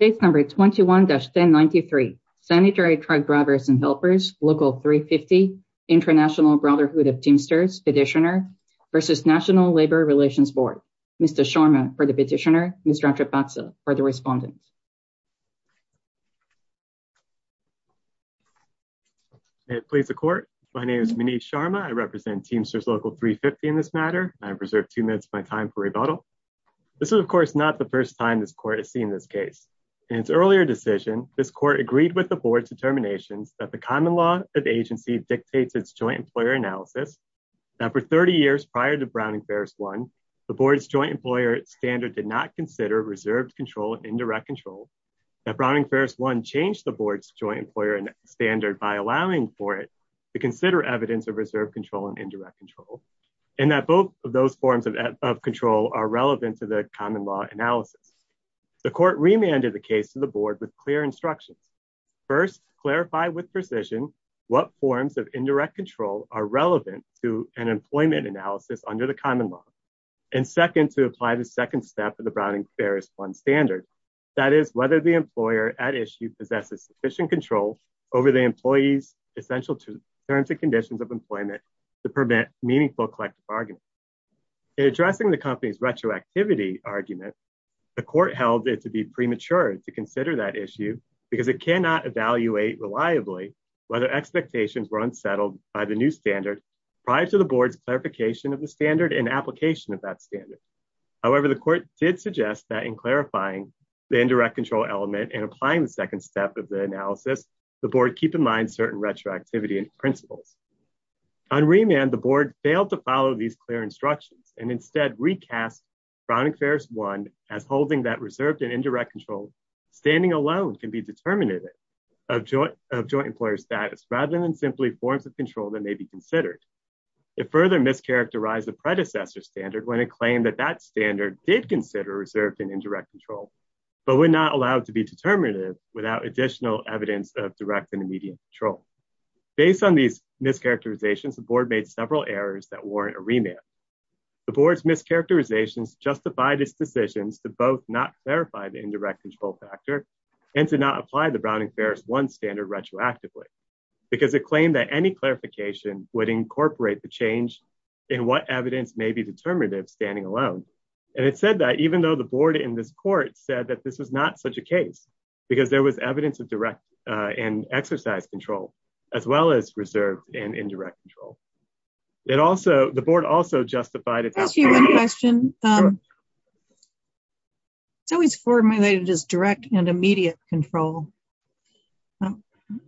Case number 21-1093, Sanitary Truck Drivers and Helpers, Local 350, International Brotherhood of Teamsters, Petitioner, v. National Labor Relations Board. Mr. Sharma for the petitioner, Mr. Atrapatsa for the respondent. May it please the court. My name is Manish Sharma. I represent Teamsters Local 350 in this matter. I have preserved two minutes of my time for rebuttal. This is of course not the first time this court has seen this case. In its earlier decision, this court agreed with the board's determinations that the common law of agency dictates its joint employer analysis, that for 30 years prior to Browning-Ferris 1, the board's joint employer standard did not consider reserved control and indirect control, that Browning-Ferris 1 changed the board's joint employer standard by allowing for it to consider evidence of reserved control and indirect control, and that both of control are relevant to the common law analysis. The court remanded the case to the board with clear instructions. First, clarify with precision what forms of indirect control are relevant to an employment analysis under the common law. And second, to apply the second step of the Browning-Ferris 1 standard, that is whether the employer at issue possesses sufficient control over the employee's essential terms and conditions of employment to permit meaningful collective argument. In addressing the company's retroactivity argument, the court held it to be premature to consider that issue because it cannot evaluate reliably whether expectations were unsettled by the new standard prior to the board's clarification of the standard and application of that standard. However, the court did suggest that in clarifying the indirect control element and applying the second step of the analysis, the board keep in mind certain retroactivity principles. On remand, the board failed to follow these clear instructions and instead recast Browning-Ferris 1 as holding that reserved and indirect control standing alone can be determinative of joint employer status rather than simply forms of control that may be considered. It further mischaracterized the predecessor standard when it claimed that that standard did consider reserved and indirect control, but would not allow it to be determinative without additional evidence of direct and immediate control. Based on these mischaracterizations, the board made several errors that warrant a remand. The board's mischaracterizations justified its decisions to both not clarify the indirect control factor and to not apply the Browning-Ferris 1 standard retroactively because it claimed that any clarification would incorporate the change in what evidence may be determinative standing alone. And it said that even though the board in this court said that this was not such a case because there was evidence of direct and exercise control, as well as reserved and indirect control. It also, the board also justified it. I'll ask you one question. It's always formulated as direct and immediate control.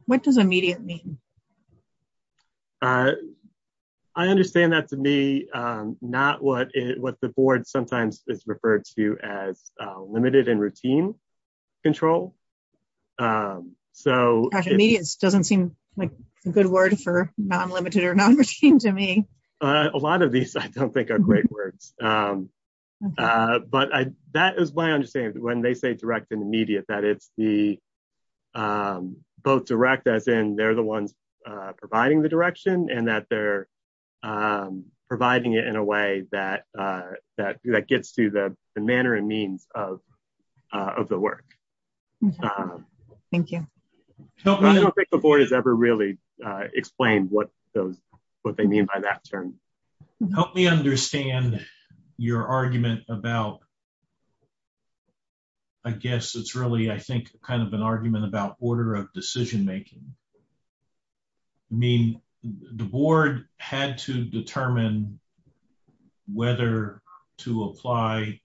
What does immediate mean? I understand that to me, not what the board sometimes is referred to as limited and routine control. It doesn't seem like a good word for non-limited or non-routine to me. A lot of these I don't think are great words, but that is my understanding. When they say direct and immediate, that it's both direct as in they're the ones providing the direction and that they're working. I don't think the board has ever really explained what they mean by that term. Help me understand your argument about, I guess it's really, I think kind of an argument about order of decision-making. I mean, the board had to determine whether to apply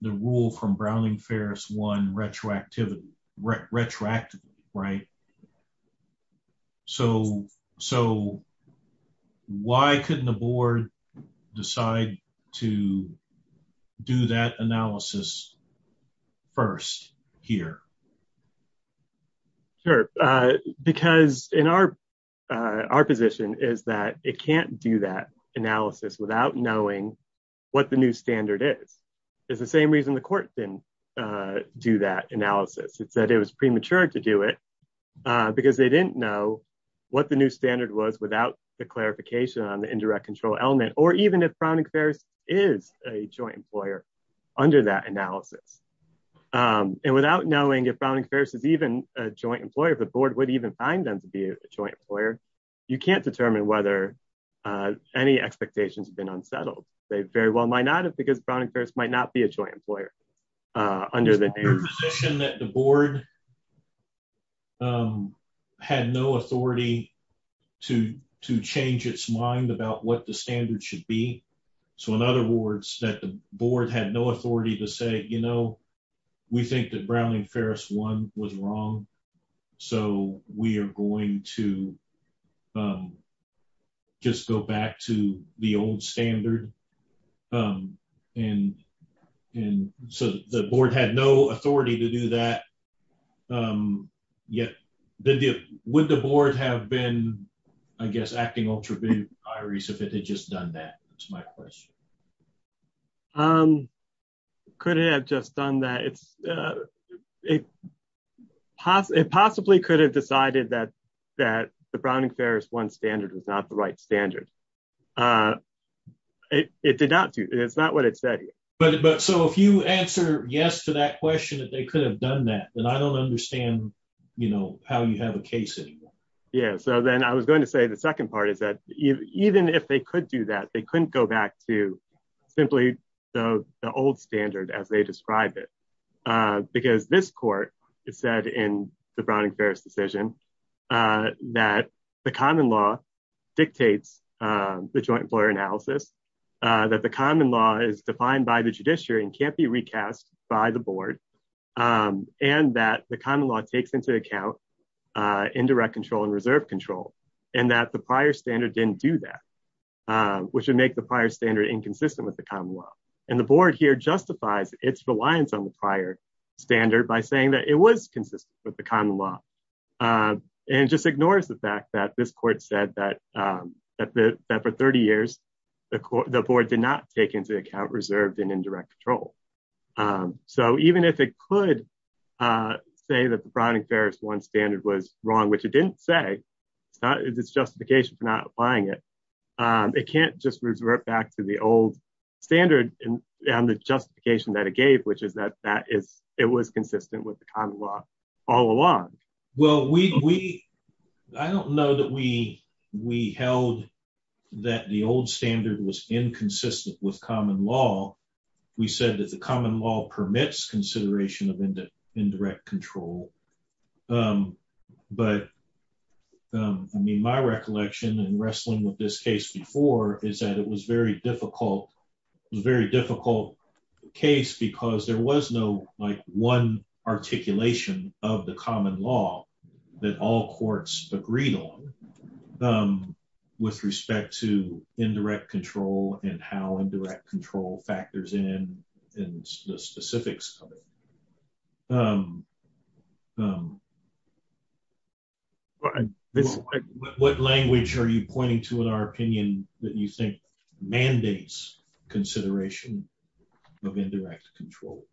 the rule from Browning-Ferris one retroactively. Why couldn't the board decide to do that analysis first here? Sure. Because in our position is that it can't do that analysis without knowing what the new standard is. It's the same reason the court didn't do that analysis. It said it was premature to do it because they didn't know what the new standard was without the clarification on the indirect control element, or even if Browning-Ferris is a joint employer under that analysis. And without knowing if Browning-Ferris is even a joint employer, if the board would even find them to be a joint employer, you can't determine whether any expectations have been settled. They very well might not, because Browning-Ferris might not be a joint employer under the name. Your position that the board had no authority to change its mind about what the standard should be. So in other words, that the board had no authority to say, you know, we think that Browning-Ferris one was wrong. So we are going to just go back to the old standard. And so the board had no authority to do that yet. Would the board have been, I guess, acting ultraby Iris, if it had just done that? My question could have just done that. It's it possibly could have decided that that the Browning-Ferris one standard was not the right standard. It did not. It's not what it said. But so if you answer yes to that question, that they could have done that, then I don't understand how you have a case. Yeah. So then I was going to say the second part is that even if they could do that, they couldn't go back to simply the old standard as they described it, because this court said in the Browning-Ferris decision that the common law dictates the joint employer analysis, that the common law is defined by the judiciary and can't be recast by the board, and that the common law takes into account indirect control and reserve control, and that the prior standard didn't do that, which would make the prior standard inconsistent with the common law. And the board here justifies its reliance on the prior standard by saying that it was consistent with the common law and just ignores the fact that this court said that for 30 years, the board did not take into account reserved and indirect control. So even if it could say that the Browning-Ferris one standard was wrong, which it didn't say, it's justification for not applying it, it can't just revert back to the old standard and the justification that it gave, which is that it was consistent with the common law all along. Well, I don't know that we held that the old standard was inconsistent with common law. We said that the common law permits consideration of indirect control, but I mean, my recollection in wrestling with this case before is that it was very difficult, it was a very difficult case because there was no like one articulation of the common law that all courts agreed on with respect to indirect control and how indirect control factors in and the specifics of it. What language are you pointing to in our opinion that you think mandates consideration of indirect control?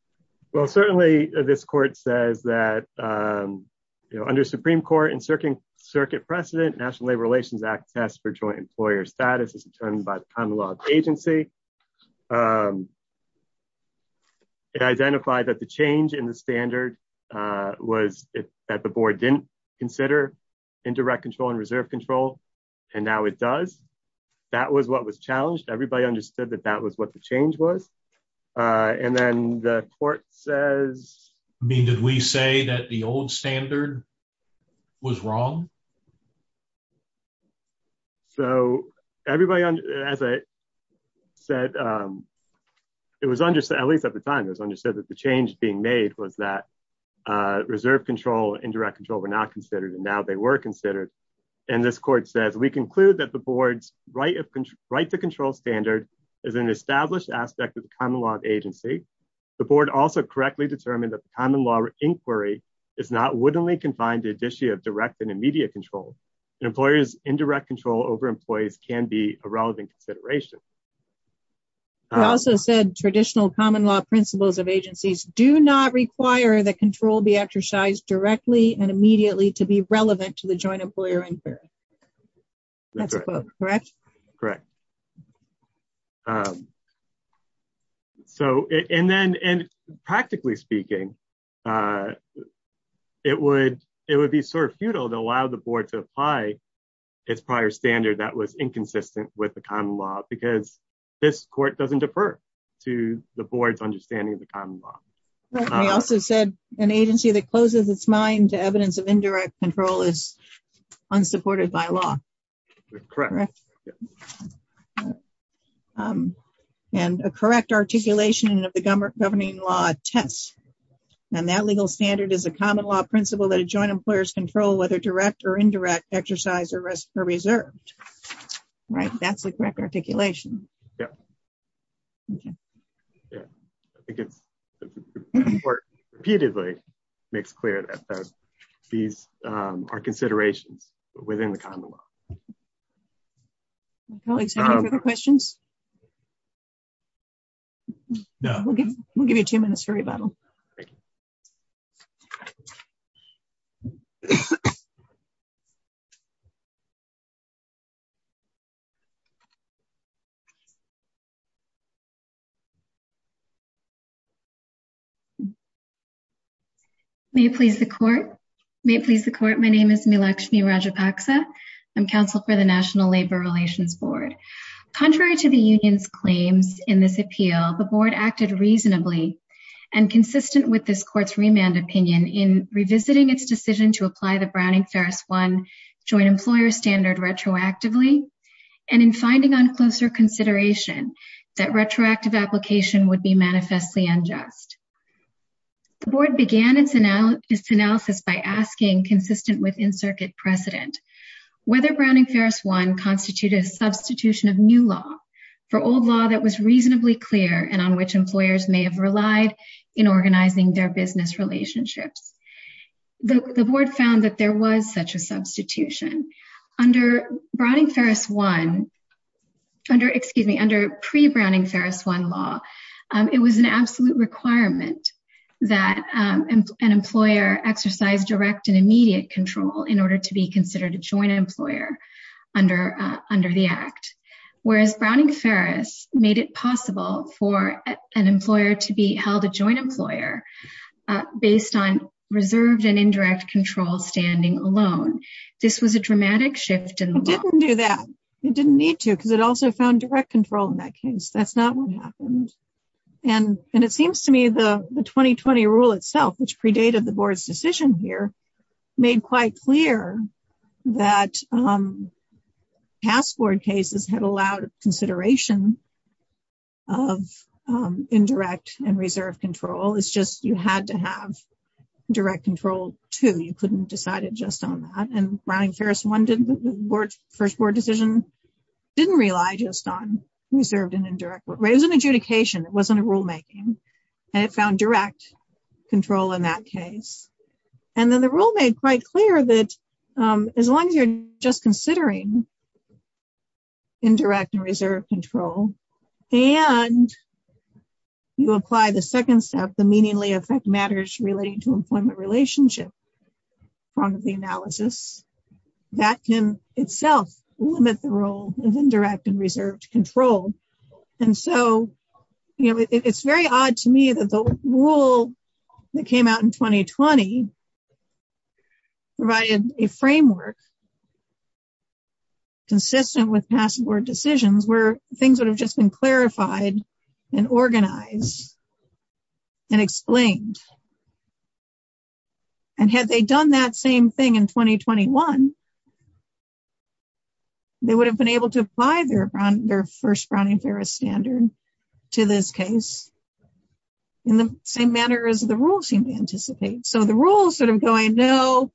Well, certainly this court says that under Supreme Court and circuit precedent, National Labor Relations Act test for joint employer status is determined by the common law agency. It identified that the change in the standard was that the board didn't consider indirect control and reserve control, and now it does. That was what was challenged. Everybody understood that that was what the change was. And then the court says... I mean, did we say that the old standard was wrong? So everybody, as I said, it was understood, at least at the time, it was understood that the change being made was that reserve control, indirect control were not considered and now they were considered. And this court says, we conclude that the board's right to control standard is an established aspect of the common law agency. The board also correctly determined that the common law inquiry is not wittingly confined to the issue of direct and immediate control. An employer's indirect control over employees can be a relevant consideration. It also said traditional common law principles of agencies do not require that control be exercised directly and immediately to be relevant to the joint employer inquiry. That's a quote, correct? Correct. So, and then practically speaking, it would be sort of futile to allow the board to apply its prior standard that was inconsistent with the common law because this court doesn't defer to the board's understanding of the common law. We also said an agency that closes its mind to evidence of indirect control is supported by law. Correct. And a correct articulation of the governing law attests, and that legal standard is a common law principle that a joint employer's control, whether direct or indirect, exercised or reserved. Right? That's the correct articulation. Yeah. Yeah. I think it's repeatedly makes clear that these are considerations within the common law. Colleagues, any further questions? No. We'll give you two minutes for rebuttal. May it please the court. May it please the court. My name is Milakshmi Rajapaksa. I'm counsel for the National Labor Relations Board. Contrary to the union's claims in this appeal, the board acted reasonably and consistent with this court's remand opinion in revisiting its decision to apply the Browning-Ferris One joint employer standard retroactively, and in finding on closer consideration that retroactive application would be manifestly unjust. The board began its analysis by asking, consistent with in-circuit precedent, whether Browning-Ferris One constituted a substitution of new law for old law that was reasonably clear and on which employers may have relied in organizing their business relationships. The board found that there was such a substitution. Under Browning-Ferris One, excuse me, under pre-Browning-Ferris One law, it was an absolute requirement that an employer exercise direct and immediate control in order to be considered a joint employer under the act, whereas Browning-Ferris made it possible for an employer to be held a joint employer based on reserved and indirect control standing alone. This was a dramatic shift in the law. It didn't do that. It didn't need to because it also found direct control in that case. That's not what happened. And it seems to me the 2020 rule itself, which predated the board's decision here, made quite clear that past board cases had allowed consideration of indirect and reserved control. It's just you had to have direct control, too. You couldn't decide it just on that. And Browning-Ferris One, the first board decision, didn't rely just on reserved and indirect. It was an adjudication. It wasn't a rulemaking. And it found direct control in that case. And then the rule made quite clear that as long as you're just considering indirect and reserved control and you apply the second step, the meaningfully affect matters relating to employment relationship front of the analysis, that can itself limit the role of indirect and reserved control. And so it's very odd to me that the rule that came out in 2020 provided a framework consistent with past board decisions where things would have just been clarified and organized and explained. And had they done that same thing in 2021, they would have been able to apply their first Browning-Ferris standard to this case in the same manner as the rule seemed to anticipate. So the rule is sort of going, no,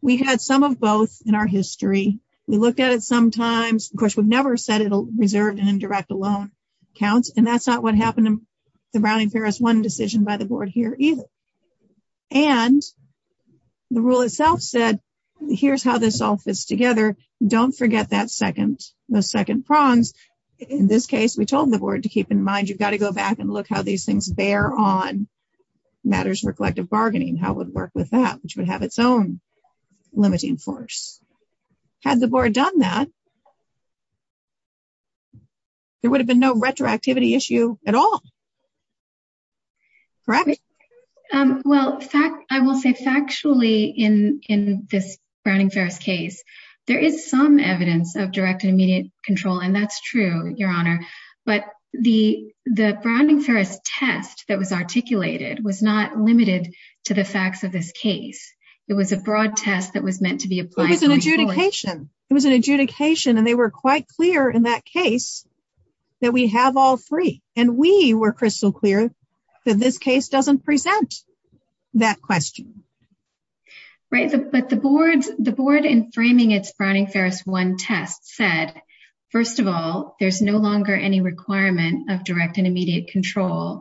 we had some of both in our history. We looked at it sometimes. Of course, we've never said it'll reserve and indirect alone counts. And that's not what happened in the Browning-Ferris One decision by the board here either. And the rule itself said, here's how this all fits together. Don't forget that second, the second prongs. In this case, we told the board to keep in mind, you've got to go back and look how these things bear on matters for collective bargaining, how it would work with that, which would have its own limiting force. Had the board done that, there would have been no retroactivity issue at all. Correct? Well, I will say factually in this Browning-Ferris case, there is some evidence of direct and immediate control. And that's true, Your Honor. But the Browning-Ferris test that was articulated was not limited to the facts of this case. It was a broad test that was meant to be applied. It was an adjudication. It was an adjudication. And they were quite clear in that case that we have all three. And we were crystal clear that this case doesn't present that question. Right. But the board in framing its Browning-Ferris one test said, first of all, there's no longer any requirement of direct and immediate control.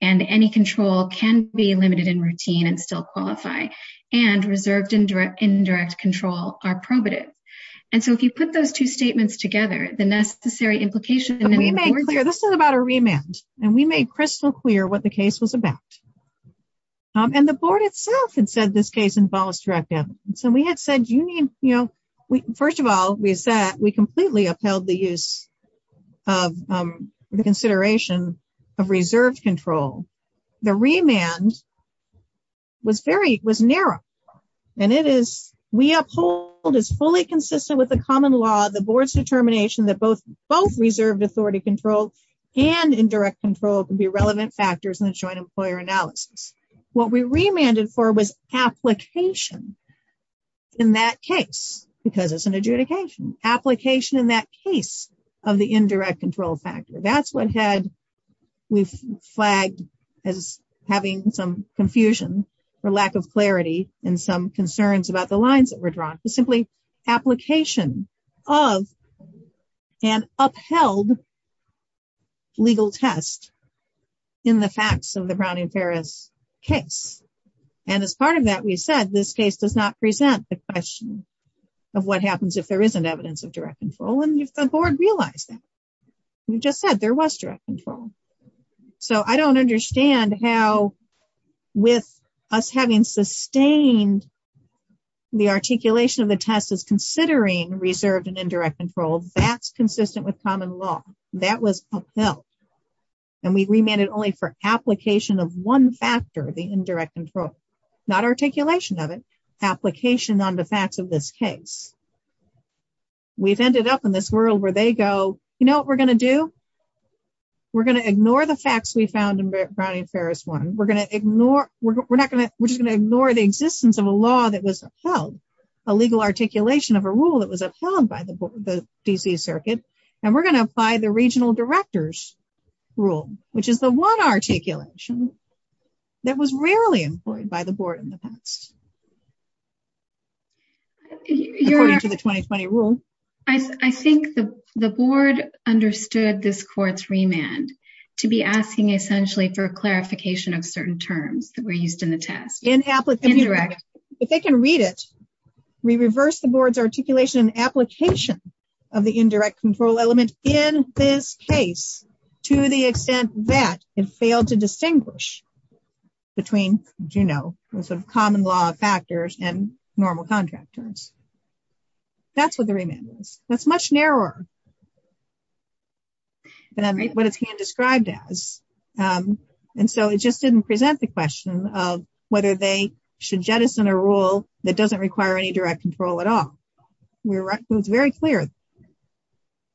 And any control can be limited in routine and still qualify. And reserved indirect control are probative. And so if you put those two statements together, the necessary implication... This is about a remand. And we made crystal clear what the case was about. And the board itself had said this case involves direct evidence. So we had said, first of all, we said we completely upheld the use of the consideration of reserved control. The remand was narrow. And it is, we uphold as fully consistent with the common law, the board's determination that both reserved authority control and indirect control can be relevant factors in the joint employer analysis. What we remanded for was application in that case, because it's an adjudication. Application in that case of the indirect control factor. That's what had... We've flagged as having some confusion or lack of clarity and some concerns about the lines that were drawn. Simply application of an upheld legal test in the facts of the Brown v. Ferris case. And as part of that, we said this case does not present the question of what happens if there isn't evidence of direct control. And the board realized that. We just said there was direct control. So I don't understand how with us having sustained the articulation of the test as considering reserved and indirect control, that's consistent with common law. That was upheld. And we remanded only for application of one factor, the indirect control. Not articulation of it. Application on the facts of this case. We've ended up in this world where they go, you know what we're going to do? We're going to ignore the facts we found in Brown v. Ferris one. We're just going to ignore the existence of a law that was upheld. A legal articulation of a rule that was upheld by the DC circuit. And we're going to apply the regional director's rule, which is the one articulation that was rarely employed by the board in the past. According to the 2020 rule. I think the board understood this court's remand to be asking essentially for clarification of certain terms that were used in the test. If they can read it, we reverse the board's articulation and application of the indirect control element in this case to the extent that it failed to distinguish between, you know, sort of common law factors and normal contract terms. That's what the remand is. That's much narrower than what it's being described as. And so it just didn't present the question of whether they should jettison a rule that doesn't require any direct control at all. We were right. It was very clear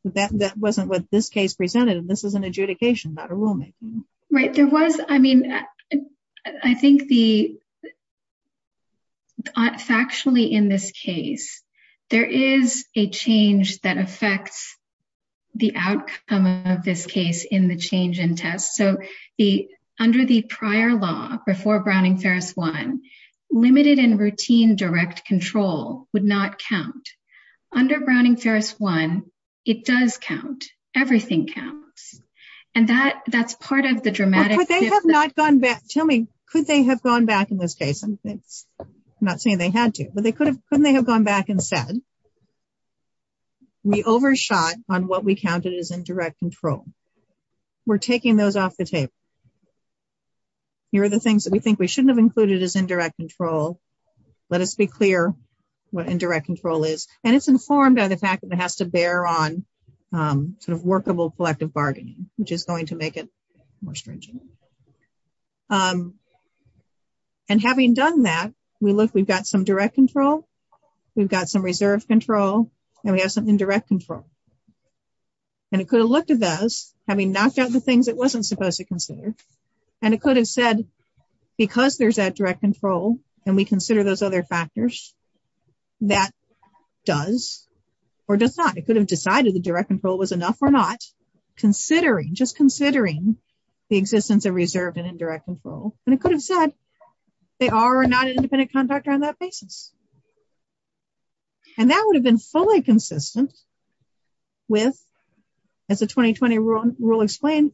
that that wasn't what this case presented. And this is an adjudication, not a rulemaking. Right. There was, I mean, I think the factually in this case, there is a change that affects the outcome of this case in the change in test. So under the prior law before Browning-Ferris one, limited and routine direct control would not count. Under Browning-Ferris one, it does count. Everything counts. And that's part of the dramatic difference. But they have not gone back. Tell me, could they have gone back in this case? I'm not saying they had to, but couldn't they have gone back and said, we overshot on what we counted as indirect control. We're taking those off the table. Here are the things that we think we shouldn't have included as indirect control. Let us be clear what indirect control is. And it's informed by the fact that it has to bear on sort of workable collective bargaining, which is going to make it more stringent. And having done that, we look, we've got some direct control, we've got some reserve control, and we have some indirect control. And it could have looked at those, having knocked out the things it wasn't supposed to consider. And it could have said, because there's that direct control, and we consider those other factors, that does or does not. It could have decided the direct control was enough or not, considering, just considering the existence of reserved and indirect control. And it could have said, they are or are not an independent contractor on that basis. And that would have been fully consistent with, as the 2020 rule explained,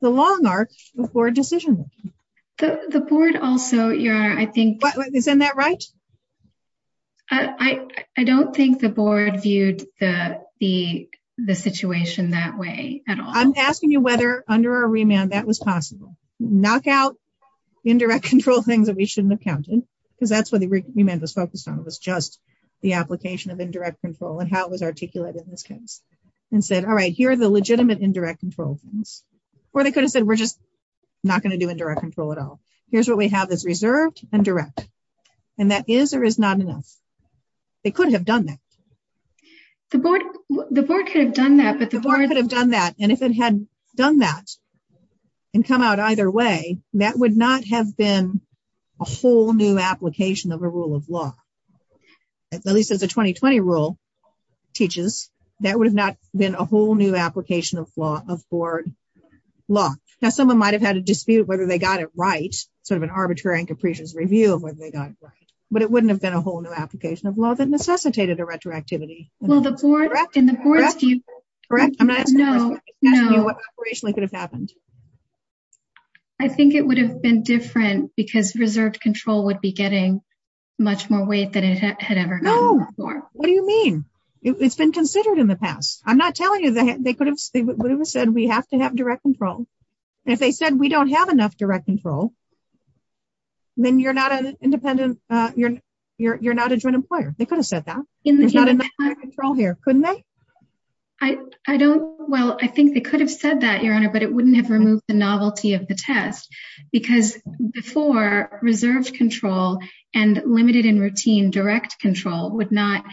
the long arc before decision. The board also, your honor, I think... Isn't that right? I don't think the board viewed the situation that way at all. I'm asking you whether under a remand that was possible. Knock out indirect control things that we shouldn't have counted, because that's what the remand was focused on. It was just the application of indirect control and how it was articulated in this case. And said, all right, here are the legitimate indirect control things. Or they could have said, we're just not going to do indirect control at all. Here's what we have that's reserved and direct. And that is or is not enough. They could have done that. The board could have done that. But the board could have done that. And if it had done that and come out either way, that would not have been a whole new application of a rule of law. At least as a 2020 rule teaches, that would have not been a whole new application of law of board law. Now, someone might have had a dispute whether they got it right. Sort of an arbitrary and capricious review of whether they got it right. But it wouldn't have been a whole new application of law that necessitated a retroactivity. Well, the board and the board... Correct? I'm not asking what operationally could have happened. I think it would have been different because reserved control would be getting much more weight than it had ever gone before. No. What do you mean? It's been considered in the past. I'm not telling you they could have said we have to have direct control. If they said we don't have enough direct control, then you're not an independent... You're not a joint employer. They could have said that. There's not enough direct control here, couldn't they? I don't... Well, I think they could have said that, Your Honor, but it wouldn't have removed the novelty of the test. Because before reserved control and limited and routine direct control would not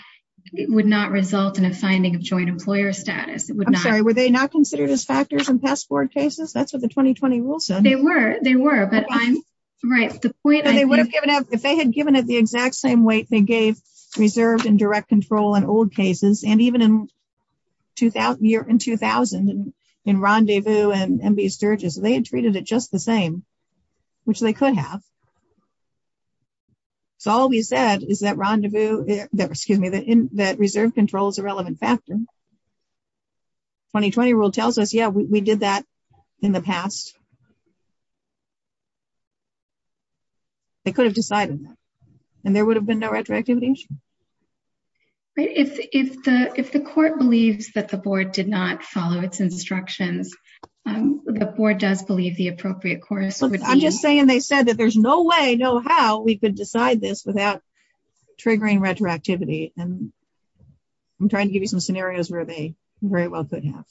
result in a finding of joint employer status. It would not... I'm sorry. Were they not considered as factors in past board cases? That's what the 2020 rule said. They were. They were. But I'm... Right. The point I'm... They would have given up... If they had given it the exact same weight they gave reserved and direct control in old cases, and even in 2000, in Rendezvous and MB Sturges, they had treated it just the same, which they could have. So all we said is that rendezvous... Excuse me. That reserved control is a relevant factor. 2020 rule tells us, yeah, we did that in the past. They could have decided that, and there would have been no retroactivity issue. Right. If the court believes that the board did not follow its instructions, the board does believe the appropriate course would be... I'm just saying they said that there's no way, no how, we could decide this without triggering retroactivity. And I'm trying to give you some scenarios where they very well could have.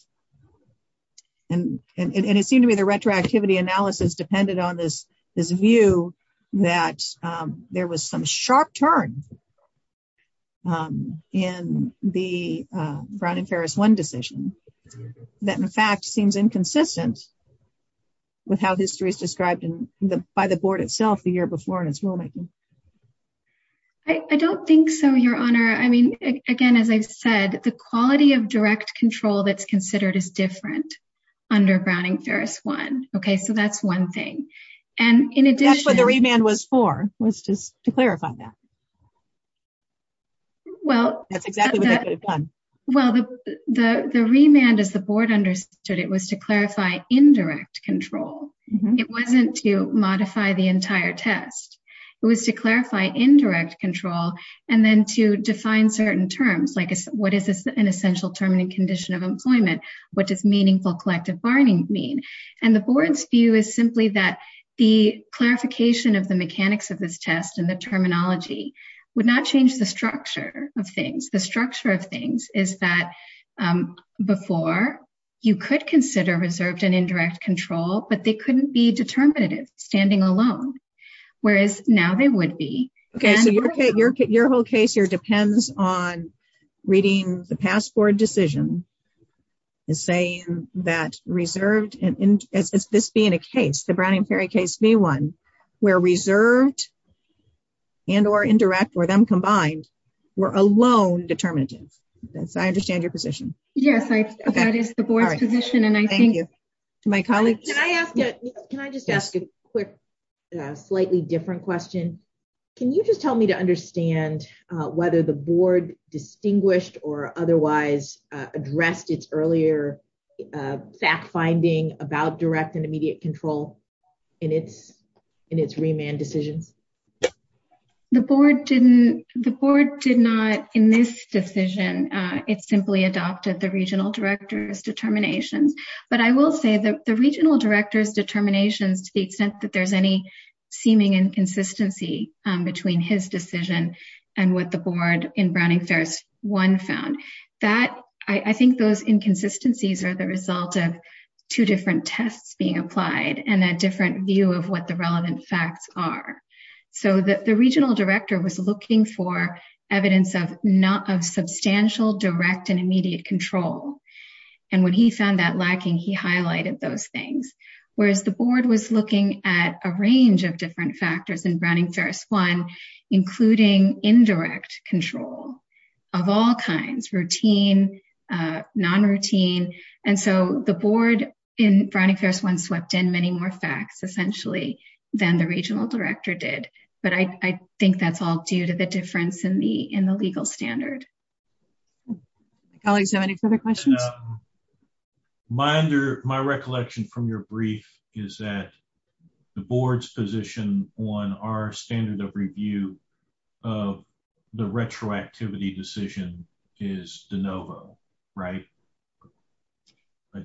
And it seemed to me the retroactivity analysis depended on this view that there was some sharp turn in the Brown and Ferris One decision that in fact seems inconsistent with how history is described by the board itself the year before in its rulemaking. I don't think so, Your Honor. I mean, again, as I said, the quality of direct control that's considered is different under Brown and Ferris One. Okay, so that's one thing. And in addition... That's what the remand was for, was just to clarify that. Well... That's exactly what they could have done. Well, the remand, as the board understood it, was to clarify indirect control. It wasn't to modify the entire test. It was to clarify indirect control and then to define certain terms, like what is an essential term in a condition of employment? What does meaningful collective bargaining mean? And the board's view is simply that the clarification of the mechanics of this test and the terminology would not change the structure of things. Is that before, you could consider reserved and indirect control, but they couldn't be determinative, standing alone. Whereas now they would be. Okay, so your whole case here depends on reading the passport decision and saying that reserved and... As this being a case, the Brown and Ferris case B-1, where reserved and or indirect or them combined were alone determinative. I understand your position. Yes, that is the board's position. And I thank you to my colleagues. Can I ask you, can I just ask a quick, slightly different question? Can you just tell me to understand whether the board distinguished or otherwise addressed its earlier fact finding about direct and immediate control in its remand decisions? The board did not, in this decision, it simply adopted the regional director's determinations. But I will say that the regional director's determinations, to the extent that there's any seeming inconsistency between his decision and what the board in Browning-Ferris-1 found, I think those inconsistencies are the result of two different tests being applied and a different view of what the relevant facts are. So the regional director was looking for evidence of substantial direct and immediate control. And when he found that lacking, he highlighted those things. Whereas the board was looking at a range of different factors in Browning-Ferris-1, including indirect control of all kinds, routine, non-routine. And so the board in Browning-Ferris-1 swept in many more facts, essentially, than the regional director did. But I think that's all due to the difference in the legal standard. Colleagues, any further questions? My recollection from your brief is that the board's position on our standard of review of the retroactivity decision is de novo, right?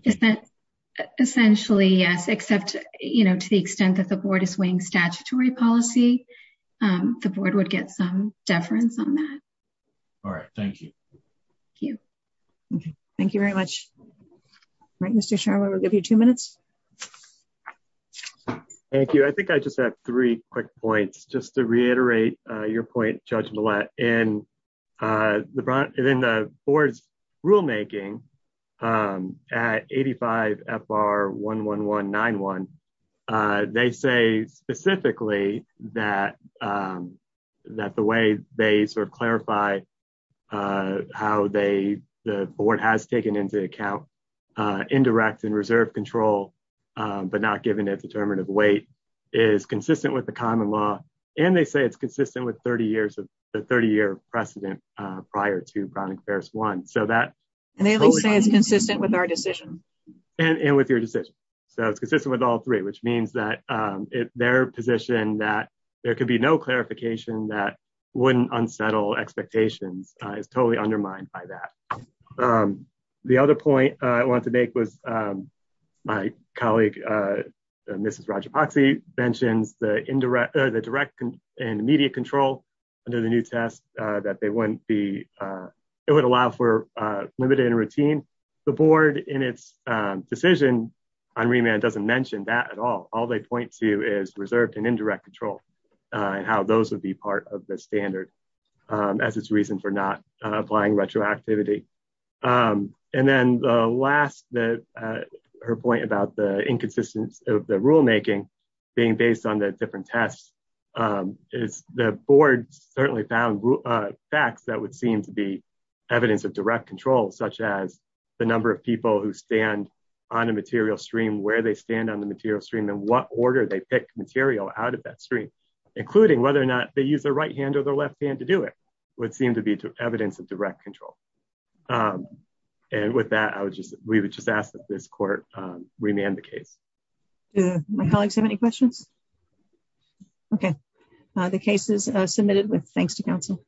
Is that essentially, yes, except, you know, to the extent that the board is weighing statutory policy, the board would get some deference on that. All right, thank you. Thank you. Thank you very much. All right, Mr. Sharma, we'll give you two minutes. Thank you. I think I just have three quick points. Just to reiterate your point, Judge Millett, in the board's rulemaking at 85 FR 11191, they say specifically that the way they sort of clarify how the board has taken into account indirect and reserve control, but not given a determinative weight, is consistent with the common law. And they say it's consistent with the 30-year precedent prior to Browning Fairs 1. So that... And they only say it's consistent with our decision. And with your decision. So it's consistent with all three, which means that their position that there could be no clarification that wouldn't unsettle expectations is totally undermined by that. The other point I wanted to make was my colleague, Mrs. Rajapaksi, mentions the direct and immediate control under the new test that they wouldn't be... It would allow for limited and routine. The board in its decision on remand doesn't mention that at all. All they point to is reserved and indirect control and how those would be part of the standard as its reason for not applying retroactivity. And then the last, her point about the inconsistency of the rulemaking, being based on the different tests, is the board certainly found facts that would seem to be evidence of direct control, such as the number of people who stand on a material stream, where they stand on the material stream, and what order they pick material out of that stream, including whether or not they use their right hand or their left hand to do it, would seem to be evidence of direct control. Do my colleagues have any questions? Okay. The case is submitted. Thanks to council.